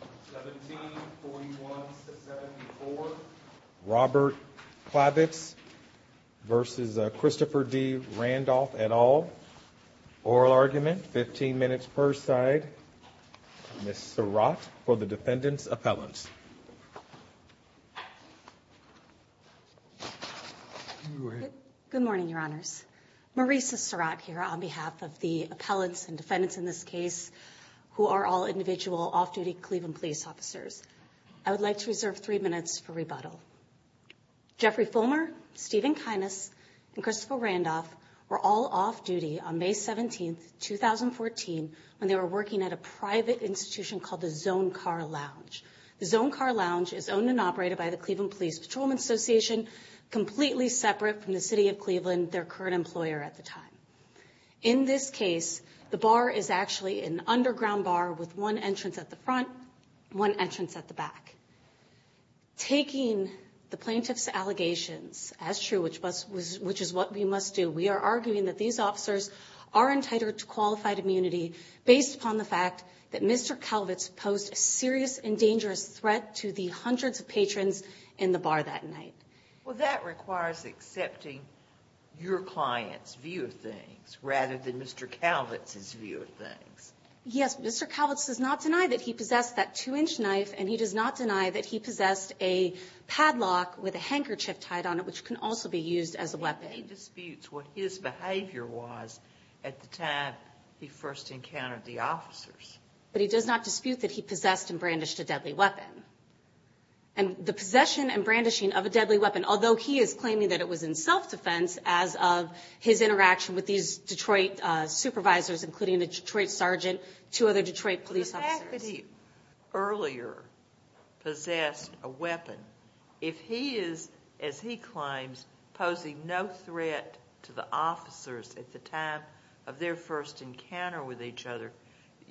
1741-74 Robert Kalvitz v. Christopher D. Randolph et al. Oral argument, 15 minutes per side, Ms. Surratt for the defendants' appellants. Good morning, Your Honors. Marisa Surratt here on behalf of the appellants and defendants in this case who are all individual off-duty Cleveland police officers. I would like to reserve three minutes for rebuttal. Jeffrey Fulmer, Stephen Kinas, and Christopher Randolph were all off-duty on May 17, 2014, when they were working at a private institution called the Zone Car Lounge. The Zone Car Lounge is owned and operated by the Cleveland Police Patrolmen's Association, completely separate from the City of Cleveland, their current employer at the time. In this case, the bar is actually an underground bar with one entrance at the front, one entrance at the back. Taking the plaintiff's allegations as true, which is what we must do, we are arguing that these officers are entitled to qualified immunity based upon the fact that Mr. Kalvitz posed a serious and dangerous threat to the hundreds of patrons in the bar that night. Well, that requires accepting your client's view of things rather than Mr. Kalvitz's view of things. Yes. Mr. Kalvitz does not deny that he possessed that two-inch knife, and he does not deny that he possessed a padlock with a handkerchief tied on it, which can also be used as a weapon. And he disputes what his behavior was at the time he first encountered the officers. But he does not dispute that he possessed and brandished a deadly weapon. And the possession and brandishing of a deadly weapon, although he is claiming that it was in self-defense as of his interaction with these Detroit supervisors, including a Detroit sergeant, two other Detroit police officers. If he earlier possessed a weapon, if he is, as he claims, posing no threat to the officers at the time of their first encounter with each other,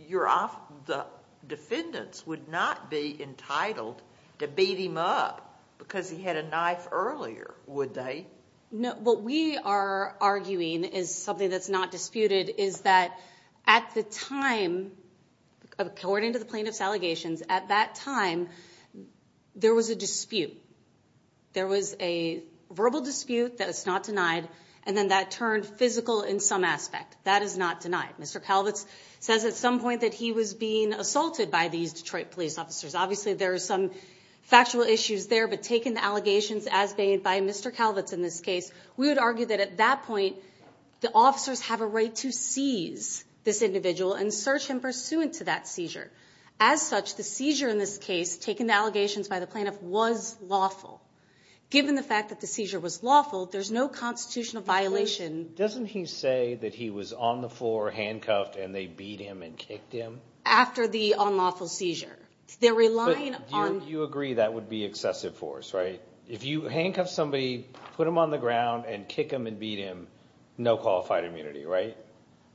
the defendants would not be entitled to beat him up because he had a knife earlier, would they? No. What we are arguing is something that's not disputed, is that at the time, according to the plaintiff's allegations, at that time, there was a dispute. There was a verbal dispute that is not denied, and then that turned physical in some aspect. That is not denied. Mr. Kalvitz says at some point that he was being assaulted by these Detroit police officers. Obviously, there are some factual issues there, but taken the allegations as made by Mr. Kalvitz in this case, we would argue that at that point, the officers have a right to seize this individual and search him pursuant to that seizure. As such, the seizure in this case, taken the allegations by the plaintiff, was lawful. Given the fact that the seizure was lawful, there's no constitutional violation. Doesn't he say that he was on the floor, handcuffed, and they beat him and kicked him? After the unlawful seizure. They're relying on... But you agree that would be excessive force, right? If you handcuff somebody, put him on the ground, and kick him and beat him, no qualified immunity, right?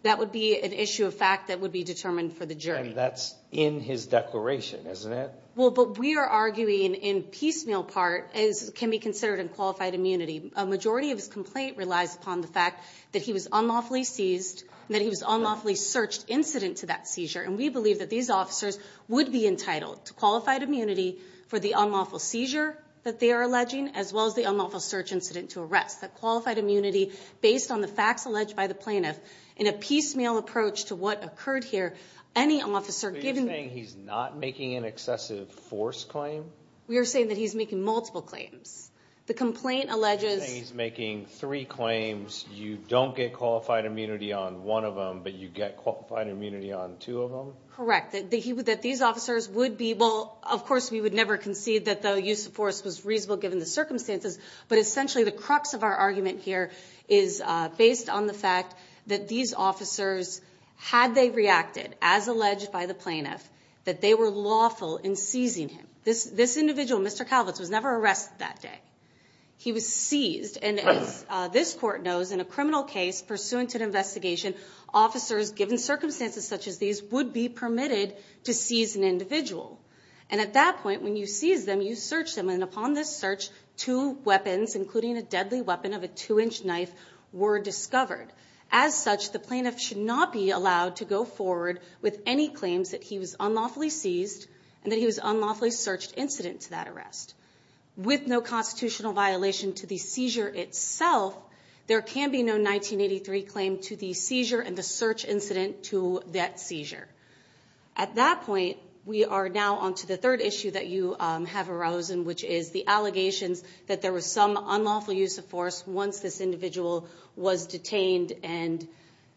That would be an issue of fact that would be determined for the jury. And that's in his declaration, isn't it? Well, but we are arguing in piecemeal part, as can be considered in qualified immunity. A majority of his complaint relies upon the fact that he was unlawfully seized, that he was unlawfully searched incident to that seizure. And we believe that these officers would be entitled to qualified immunity for the unlawful seizure that they are alleging, as well as the unlawful search incident to arrest. That qualified immunity, based on the facts alleged by the plaintiff, in a piecemeal approach to what occurred here, any officer... You're saying he's not making an excessive force claim? We are saying that he's making multiple claims. The complaint alleges... You're saying he's making three claims, you don't get qualified immunity on one of them, but you get qualified immunity on two of them? Correct. That these officers would be... Well, of course, we would never concede that the use of force was reasonable given the circumstances. But essentially, the crux of our argument here is based on the fact that these officers, had they reacted, as alleged by the plaintiff, that they were lawful in seizing him. This individual, Mr. Calvitz, was never arrested that day. He was seized. And as this court knows, in a criminal case pursuant to an investigation, officers, given circumstances such as these, would be permitted to seize an individual. And at that point, when you seize them, you search them. And upon this search, two weapons, including a deadly weapon of a two-inch knife, were discovered. As such, the plaintiff should not be allowed to go forward with any claims that he was unlawfully seized and that he was unlawfully searched incident to that arrest. With no constitutional violation to the seizure itself, there can be no 1983 claim to the seizure and the search incident to that seizure. At that point, we are now on to the third issue that you have arisen, which is the allegations that there was some unlawful use of force once this individual was detained and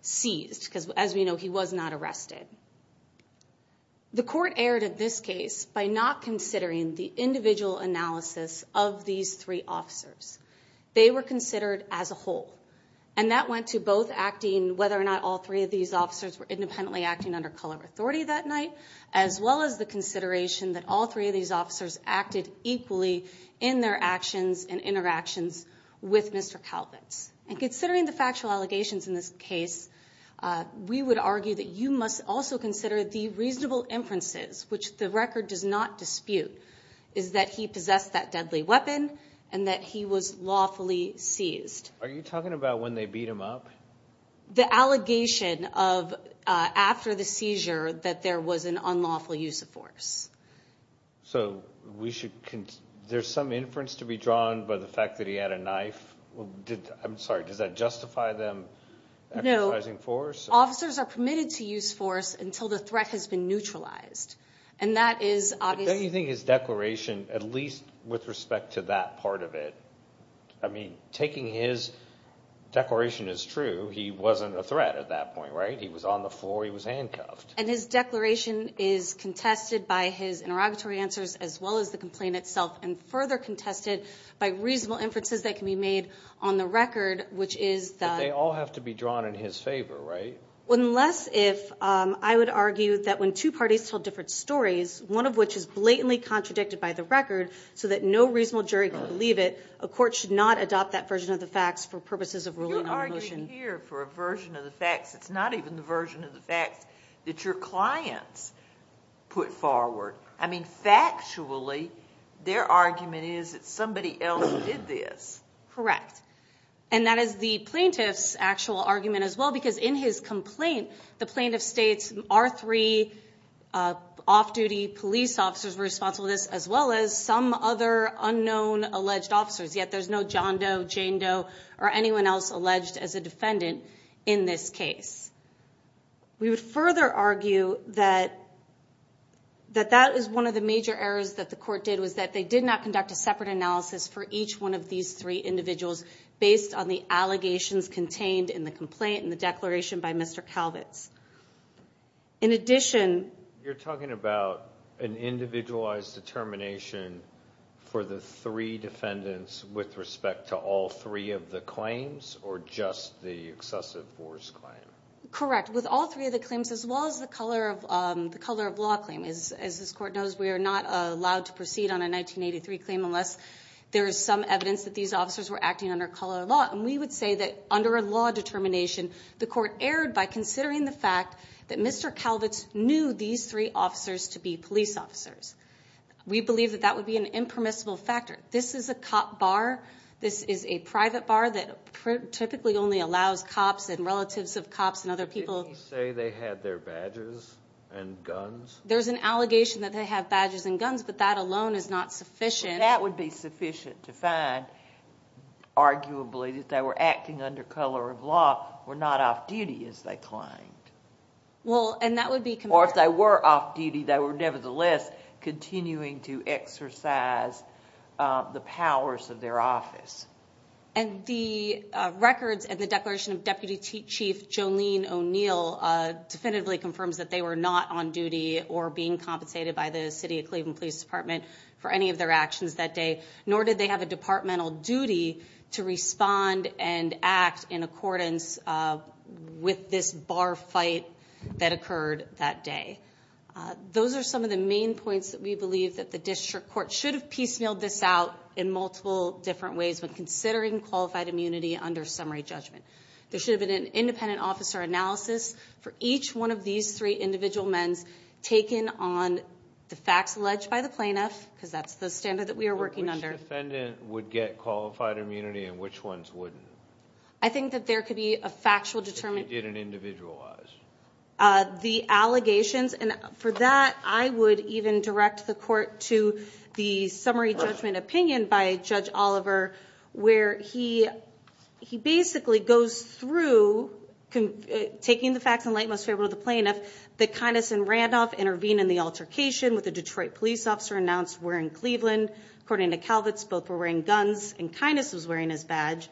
seized. Because, as we know, he was not arrested. The court erred in this case by not considering the individual analysis of these three officers. They were considered as a whole. And that went to both acting, whether or not all three of these officers were independently acting under color authority that night, as well as the consideration that all three of these officers acted equally in their actions and interactions with Mr. Kalvetz. And considering the factual allegations in this case, we would argue that you must also consider the reasonable inferences, which the record does not dispute, is that he possessed that deadly weapon and that he was lawfully seized. Are you talking about when they beat him up? The allegation of after the seizure that there was an unlawful use of force. So we should – there's some inference to be drawn by the fact that he had a knife? I'm sorry, does that justify them exercising force? No. Officers are permitted to use force until the threat has been neutralized. And that is obviously – But don't you think his declaration, at least with respect to that part of it – I mean, taking his declaration as true, he wasn't a threat at that point, right? He was on the floor. He was handcuffed. And his declaration is contested by his interrogatory answers as well as the complaint itself and further contested by reasonable inferences that can be made on the record, which is that – But they all have to be drawn in his favor, right? Unless if – I would argue that when two parties tell different stories, one of which is blatantly contradicted by the record so that no reasonable jury can believe it, a court should not adopt that version of the facts for purposes of ruling on a motion. You're arguing here for a version of the facts. It's not even the version of the facts that your clients put forward. I mean, factually, their argument is that somebody else did this. Correct. And that is the plaintiff's actual argument as well because in his complaint, the plaintiff states our three off-duty police officers were responsible for this as well as some other unknown alleged officers, yet there's no John Doe, Jane Doe, or anyone else alleged as a defendant in this case. We would further argue that that is one of the major errors that the court did, was that they did not conduct a separate analysis for each one of these three individuals based on the allegations contained in the complaint and the declaration by Mr. Calvitz. In addition – You're talking about an individualized determination for the three defendants with respect to all three of the claims or just the excessive force claim? Correct. With all three of the claims as well as the color of law claim. As this court knows, we are not allowed to proceed on a 1983 claim unless there is some evidence that these officers were acting under color law. And we would say that under a law determination, the court erred by considering the fact that Mr. Calvitz knew these three officers to be police officers. We believe that that would be an impermissible factor. This is a cop bar. This is a private bar that typically only allows cops and relatives of cops and other people. Didn't you say they had their badges and guns? There's an allegation that they have badges and guns, but that alone is not sufficient. That would be sufficient to find, arguably, that they were acting under color of law or not off-duty as they claimed. Well, and that would be – Or if they were off-duty, they were nevertheless continuing to exercise the powers of their office. And the records and the declaration of Deputy Chief Jolene O'Neill definitively confirms that they were not on duty or being compensated by the City of Cleveland Police Department for any of their actions that day, Those are some of the main points that we believe that the district court should have piecemealed this out in multiple different ways when considering qualified immunity under summary judgment. There should have been an independent officer analysis for each one of these three individual men taken on the facts alleged by the plaintiff, because that's the standard that we are working under. Which defendant would get qualified immunity and which ones wouldn't? I think that there could be a factual – If you did an individualized? The allegations. And for that, I would even direct the court to the summary judgment opinion by Judge Oliver, where he basically goes through, taking the facts in light and most favorable of the plaintiff, that Kynes and Randolph intervened in the altercation with a Detroit police officer announced wearing Cleveland. According to Kalvitz, both were wearing guns and Kynes was wearing his badge.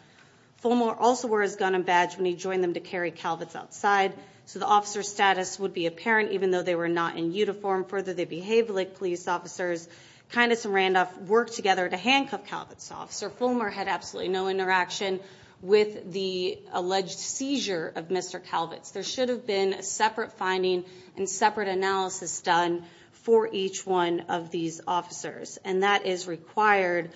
Fullmore also wore his gun and badge when he joined them to carry Kalvitz outside. So the officer's status would be apparent even though they were not in uniform. Further, they behaved like police officers. Kynes and Randolph worked together to handcuff Kalvitz. Officer Fullmore had absolutely no interaction with the alleged seizure of Mr. Kalvitz. There should have been a separate finding and separate analysis done for each one of these officers. And that is required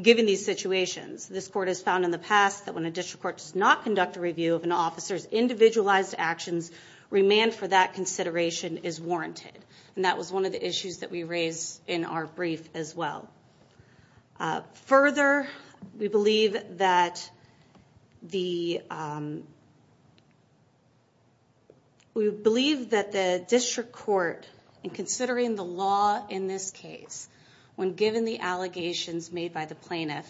given these situations. This court has found in the past that when a district court does not conduct a review of an officer's individualized actions, remand for that consideration is warranted. And that was one of the issues that we raised in our brief as well. Further, we believe that the district court, in considering the law in this case, when given the allegations made by the plaintiff,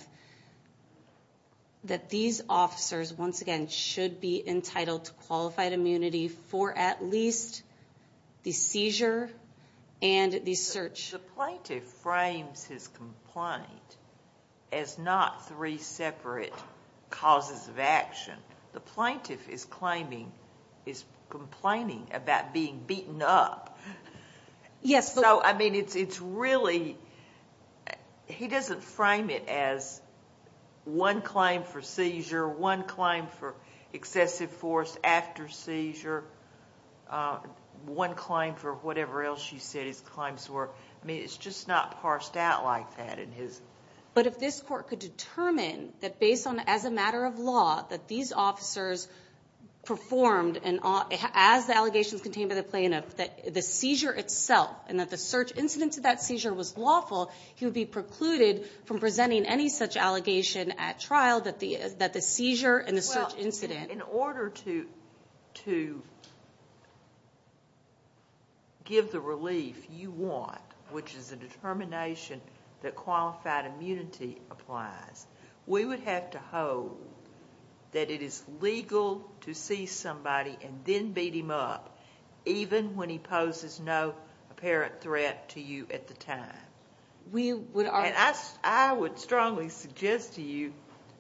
that these officers once again should be entitled to qualified immunity for at least the seizure and the search. The plaintiff frames his complaint as not three separate causes of action. The plaintiff is complaining about being beaten up. Yes. So, I mean, it's really he doesn't frame it as one claim for seizure, one claim for excessive force after seizure, one claim for whatever else you said his claims were. I mean, it's just not parsed out like that in his. But if this court could determine that based on, as a matter of law, that these officers performed as the allegations contained by the plaintiff, that the seizure itself and that the search incident to that seizure was lawful, he would be precluded from presenting any such allegation at trial that the seizure and the search incident. In order to give the relief you want, which is a determination that qualified immunity applies, we would have to hold that it is legal to see somebody and then beat him up, even when he poses no apparent threat to you at the time. I would strongly suggest to you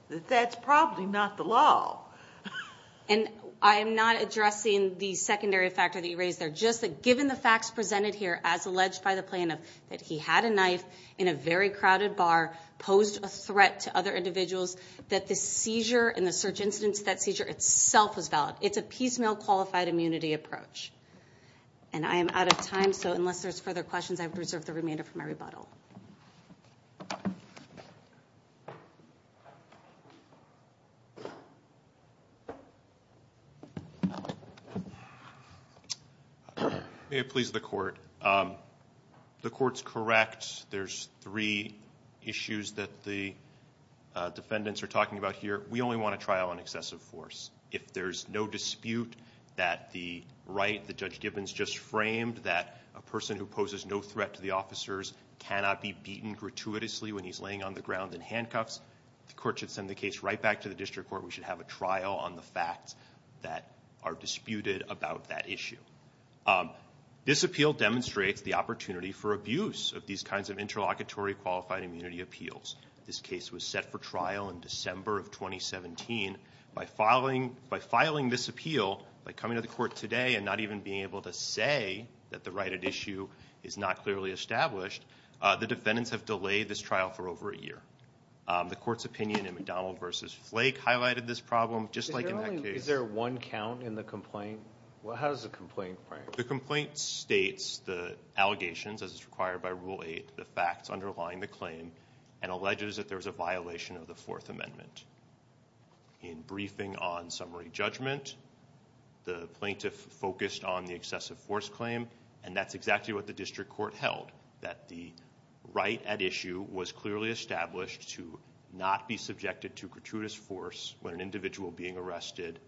that that's probably not the law. And I am not addressing the secondary factor that you raised there, just that given the facts presented here as alleged by the plaintiff, that he had a knife in a very crowded bar, posed a threat to other individuals, that the seizure and the search incident to that seizure itself was valid. It's a piecemeal qualified immunity approach. And I am out of time, so unless there's further questions, I would reserve the remainder for my rebuttal. May it please the Court. The Court's correct. There's three issues that the defendants are talking about here. We only want a trial on excessive force. If there's no dispute that the right that Judge Gibbons just framed, that a person who poses no threat to the officers cannot be beaten gratuitously when he's laying on the ground in handcuffs, the Court should send the case right back to the district court. We should have a trial on the facts that are disputed about that issue. This appeal demonstrates the opportunity for abuse of these kinds of interlocutory qualified immunity appeals. This case was set for trial in December of 2017. By filing this appeal, by coming to the Court today and not even being able to say that the right at issue is not clearly established, the defendants have delayed this trial for over a year. The Court's opinion in McDonald v. Flake highlighted this problem, just like in that case. Is there one count in the complaint? How does the complaint frame it? The complaint states the allegations as is required by Rule 8, the facts underlying the claim, and alleges that there's a violation of the Fourth Amendment. In briefing on summary judgment, the plaintiff focused on the excessive force claim, and that's exactly what the district court held, that the right at issue was clearly established to not be subjected to gratuitous force when an individual being arrested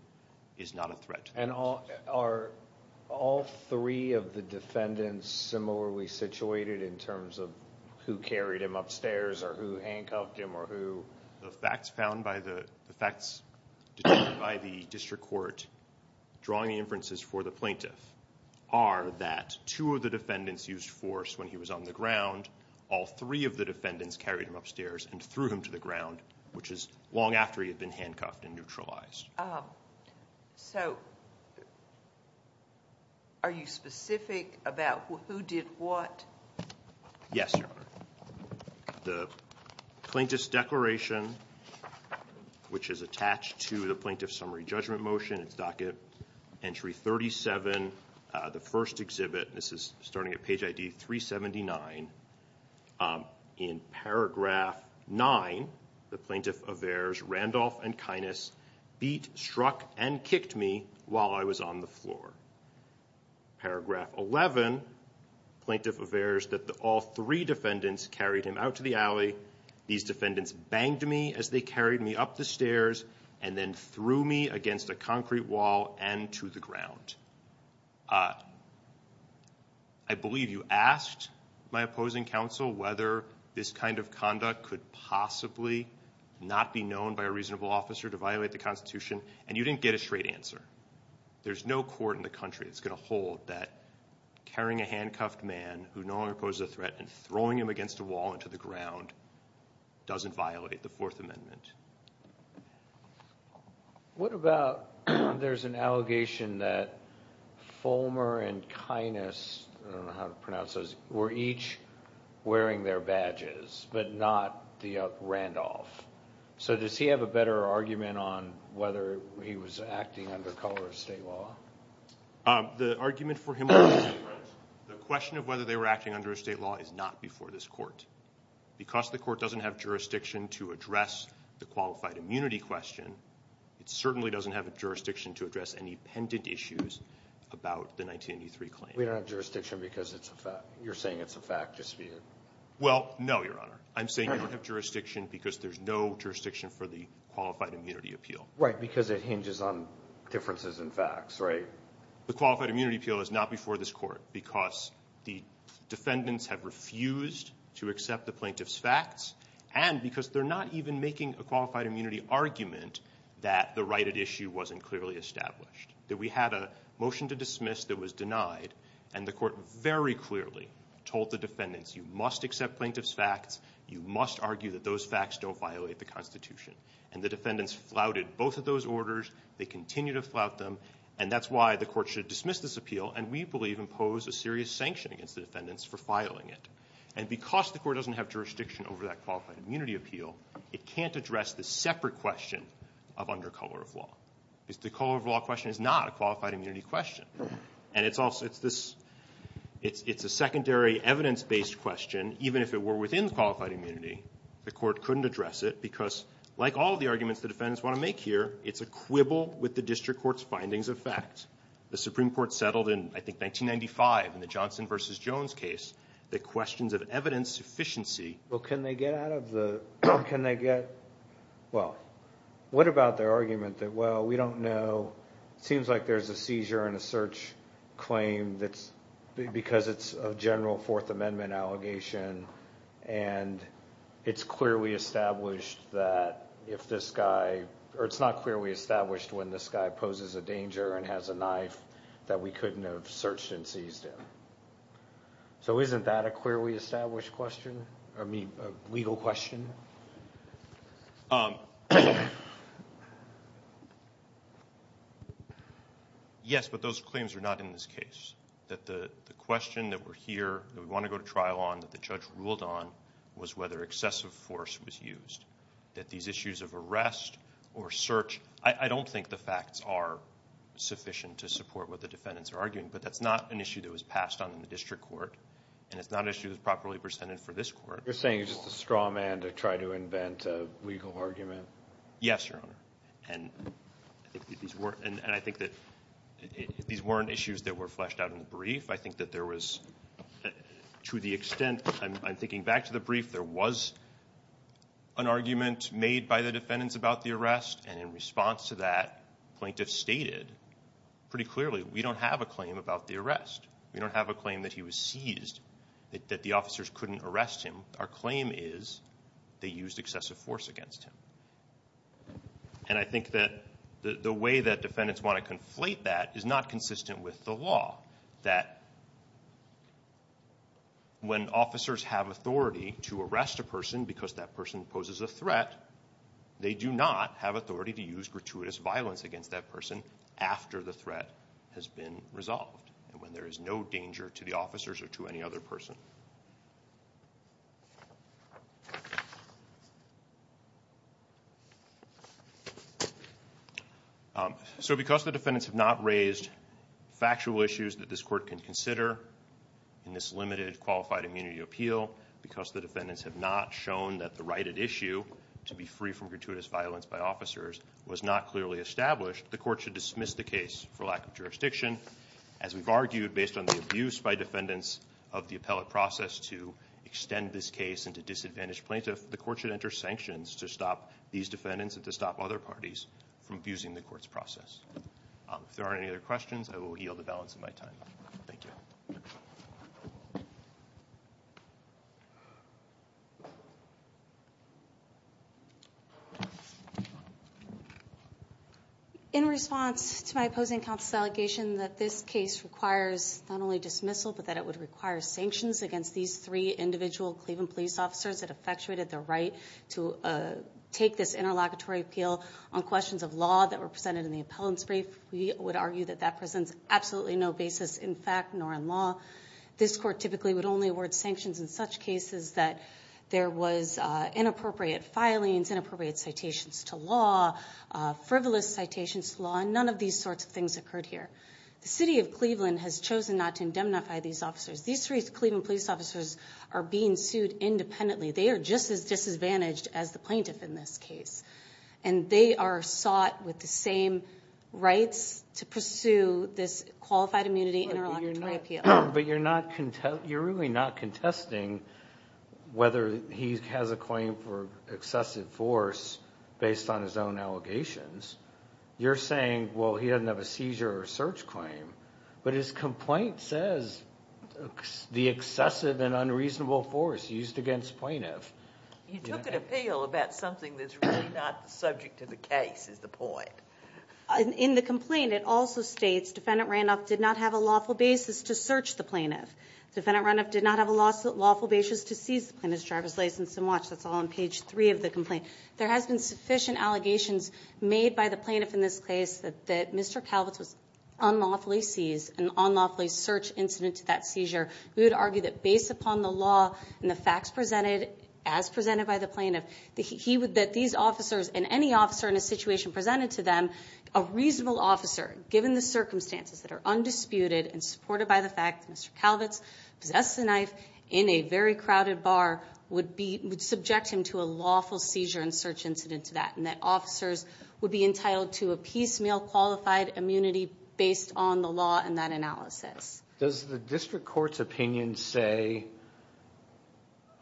is not a threat. And are all three of the defendants similarly situated in terms of who carried him upstairs or who handcuffed him or who? The facts found by the facts determined by the district court drawing inferences for the plaintiff are that two of the defendants used force when he was on the ground. All three of the defendants carried him upstairs and threw him to the ground, which is long after he had been handcuffed and neutralized. So are you specific about who did what? Yes, Your Honor. The plaintiff's declaration, which is attached to the plaintiff's summary judgment motion, it's docket entry 37, the first exhibit, and this is starting at page ID 379. In paragraph 9, the plaintiff avers Randolph and Kinas beat, struck, and kicked me while I was on the floor. Paragraph 11, the plaintiff avers that all three defendants carried him out to the alley. These defendants banged me as they carried me up the stairs and then threw me against a concrete wall and to the ground. I believe you asked my opposing counsel whether this kind of conduct could possibly not be known by a reasonable officer to violate the Constitution, and you didn't get a straight answer. There's no court in the country that's going to hold that carrying a handcuffed man who no longer poses a threat and throwing him against a wall and to the ground doesn't violate the Fourth Amendment. What about there's an allegation that Fulmer and Kinas, I don't know how to pronounce those, were each wearing their badges but not the Randolph? So does he have a better argument on whether he was acting under color of state law? The argument for him is different. The question of whether they were acting under a state law is not before this court. Because the court doesn't have jurisdiction to address the qualified immunity question, it certainly doesn't have a jurisdiction to address any pendant issues about the 1983 claim. We don't have jurisdiction because you're saying it's a fact dispute. Well, no, Your Honor. I'm saying we don't have jurisdiction because there's no jurisdiction for the qualified immunity appeal. Right, because it hinges on differences in facts, right? The qualified immunity appeal is not before this court because the defendants have refused to accept the plaintiff's facts and because they're not even making a qualified immunity argument that the right at issue wasn't clearly established, that we had a motion to dismiss that was denied and the court very clearly told the defendants, you must accept plaintiff's facts, you must argue that those facts don't violate the Constitution. And the defendants flouted both of those orders. They continue to flout them. And that's why the court should dismiss this appeal, and we believe impose a serious sanction against the defendants for filing it. And because the court doesn't have jurisdiction over that qualified immunity appeal, it can't address the separate question of under color of law. The color of law question is not a qualified immunity question. And it's a secondary evidence-based question, even if it were within the qualified immunity. The court couldn't address it because, like all the arguments the defendants want to make here, it's a quibble with the district court's findings of fact. The Supreme Court settled in, I think, 1995, in the Johnson v. Jones case, the questions of evidence sufficiency. Well, can they get out of the, can they get, well, what about their argument that, well, we don't know, it seems like there's a seizure and a search claim because it's a general Fourth Amendment allegation and it's clearly established that if this guy, or it's not clearly established when this guy poses a danger and has a knife that we couldn't have searched and seized him. So isn't that a clearly established question, I mean, a legal question? Yes, but those claims are not in this case. The question that we're here, that we want to go to trial on, that the judge ruled on, was whether excessive force was used, that these issues of arrest or search, I don't think the facts are sufficient to support what the defendants are arguing, but that's not an issue that was passed on in the district court, and it's not an issue that was properly presented for this court. You're saying he's just a straw man to try to invent a legal argument? Yes, Your Honor. And I think that these weren't issues that were fleshed out in the brief. I think that there was, to the extent, I'm thinking back to the brief, there was an argument made by the defendants about the arrest, and in response to that, plaintiffs stated pretty clearly, we don't have a claim about the arrest. We don't have a claim that he was seized, that the officers couldn't arrest him. Our claim is they used excessive force against him. And I think that the way that defendants want to conflate that is not consistent with the law, that when officers have authority to arrest a person because that person poses a threat, they do not have authority to use gratuitous violence against that person after the threat has been resolved, and when there is no danger to the officers or to any other person. So because the defendants have not raised factual issues that this court can consider in this limited qualified immunity appeal, because the defendants have not shown that the right at issue to be free from gratuitous violence by officers was not clearly established, the court should dismiss the case for lack of jurisdiction. As we've argued, based on the abuse by defendants of the appellate process to extend this case and to disadvantage plaintiffs, the court should enter sanctions to stop these defendants and to stop other parties from abusing the court's process. If there aren't any other questions, I will yield the balance of my time. Thank you. Thank you. In response to my opposing counsel's allegation that this case requires not only dismissal but that it would require sanctions against these three individual Cleveland police officers that effectuated the right to take this interlocutory appeal on questions of law that were presented in the appellant's brief, we would argue that that presents absolutely no basis in fact nor in law. This court typically would only award sanctions in such cases that there was inappropriate filings, inappropriate citations to law, frivolous citations to law, and none of these sorts of things occurred here. The city of Cleveland has chosen not to indemnify these officers. These three Cleveland police officers are being sued independently. They are just as disadvantaged as the plaintiff in this case, and they are sought with the same rights to pursue this qualified immunity interlocutory appeal. But you're really not contesting whether he has a claim for excessive force based on his own allegations. You're saying, well, he doesn't have a seizure or search claim, but his complaint says the excessive and unreasonable force used against plaintiff. You took an appeal about something that's really not subject to the case is the point. In the complaint, it also states defendant Randolph did not have a lawful basis to search the plaintiff. Defendant Randolph did not have a lawful basis to seize the plaintiff's driver's license and watch. That's all on page 3 of the complaint. There has been sufficient allegations made by the plaintiff in this case that Mr. Calvitz was unlawfully seized, an unlawfully searched incident to that seizure. We would argue that based upon the law and the facts presented as presented by the plaintiff, that these officers and any officer in a situation presented to them, a reasonable officer given the circumstances that are undisputed and supported by the fact that Mr. Calvitz possessed a knife in a very crowded bar, would subject him to a lawful seizure and search incident to that, and that officers would be entitled to a piecemeal qualified immunity based on the law and that analysis. Does the district court's opinion say,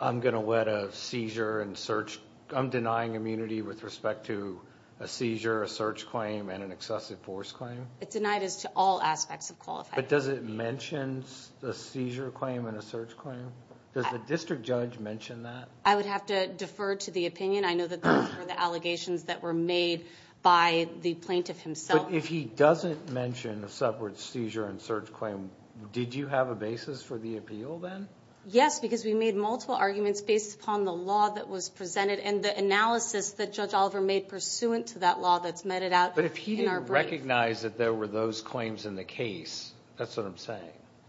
I'm going to let a seizure and search, I'm denying immunity with respect to a seizure, a search claim, and an excessive force claim? It denied us to all aspects of qualified immunity. But does it mention a seizure claim and a search claim? Does the district judge mention that? I would have to defer to the opinion. I know that those were the allegations that were made by the plaintiff himself. But if he doesn't mention a separate seizure and search claim, did you have a basis for the appeal then? Yes, because we made multiple arguments based upon the law that was presented and the analysis that Judge Oliver made pursuant to that law that's meted out in our brief. But if he didn't recognize that there were those claims in the case, that's what I'm saying.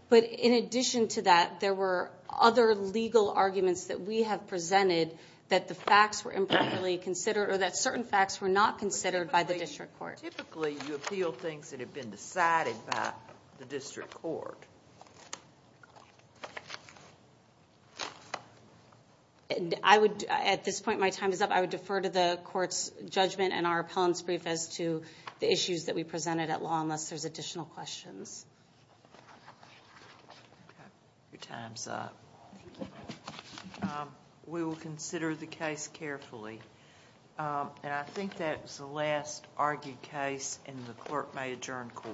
But in addition to that, there were other legal arguments that we have presented that the facts were improperly considered or that certain facts were not considered by the district court. Typically, you appeal things that have been decided by the district court. At this point, my time is up. I would defer to the court's judgment and our appellant's brief as to the issues that we presented at law, unless there's additional questions. Your time is up. We will consider the case carefully. I think that was the last argued case, and the clerk may adjourn court.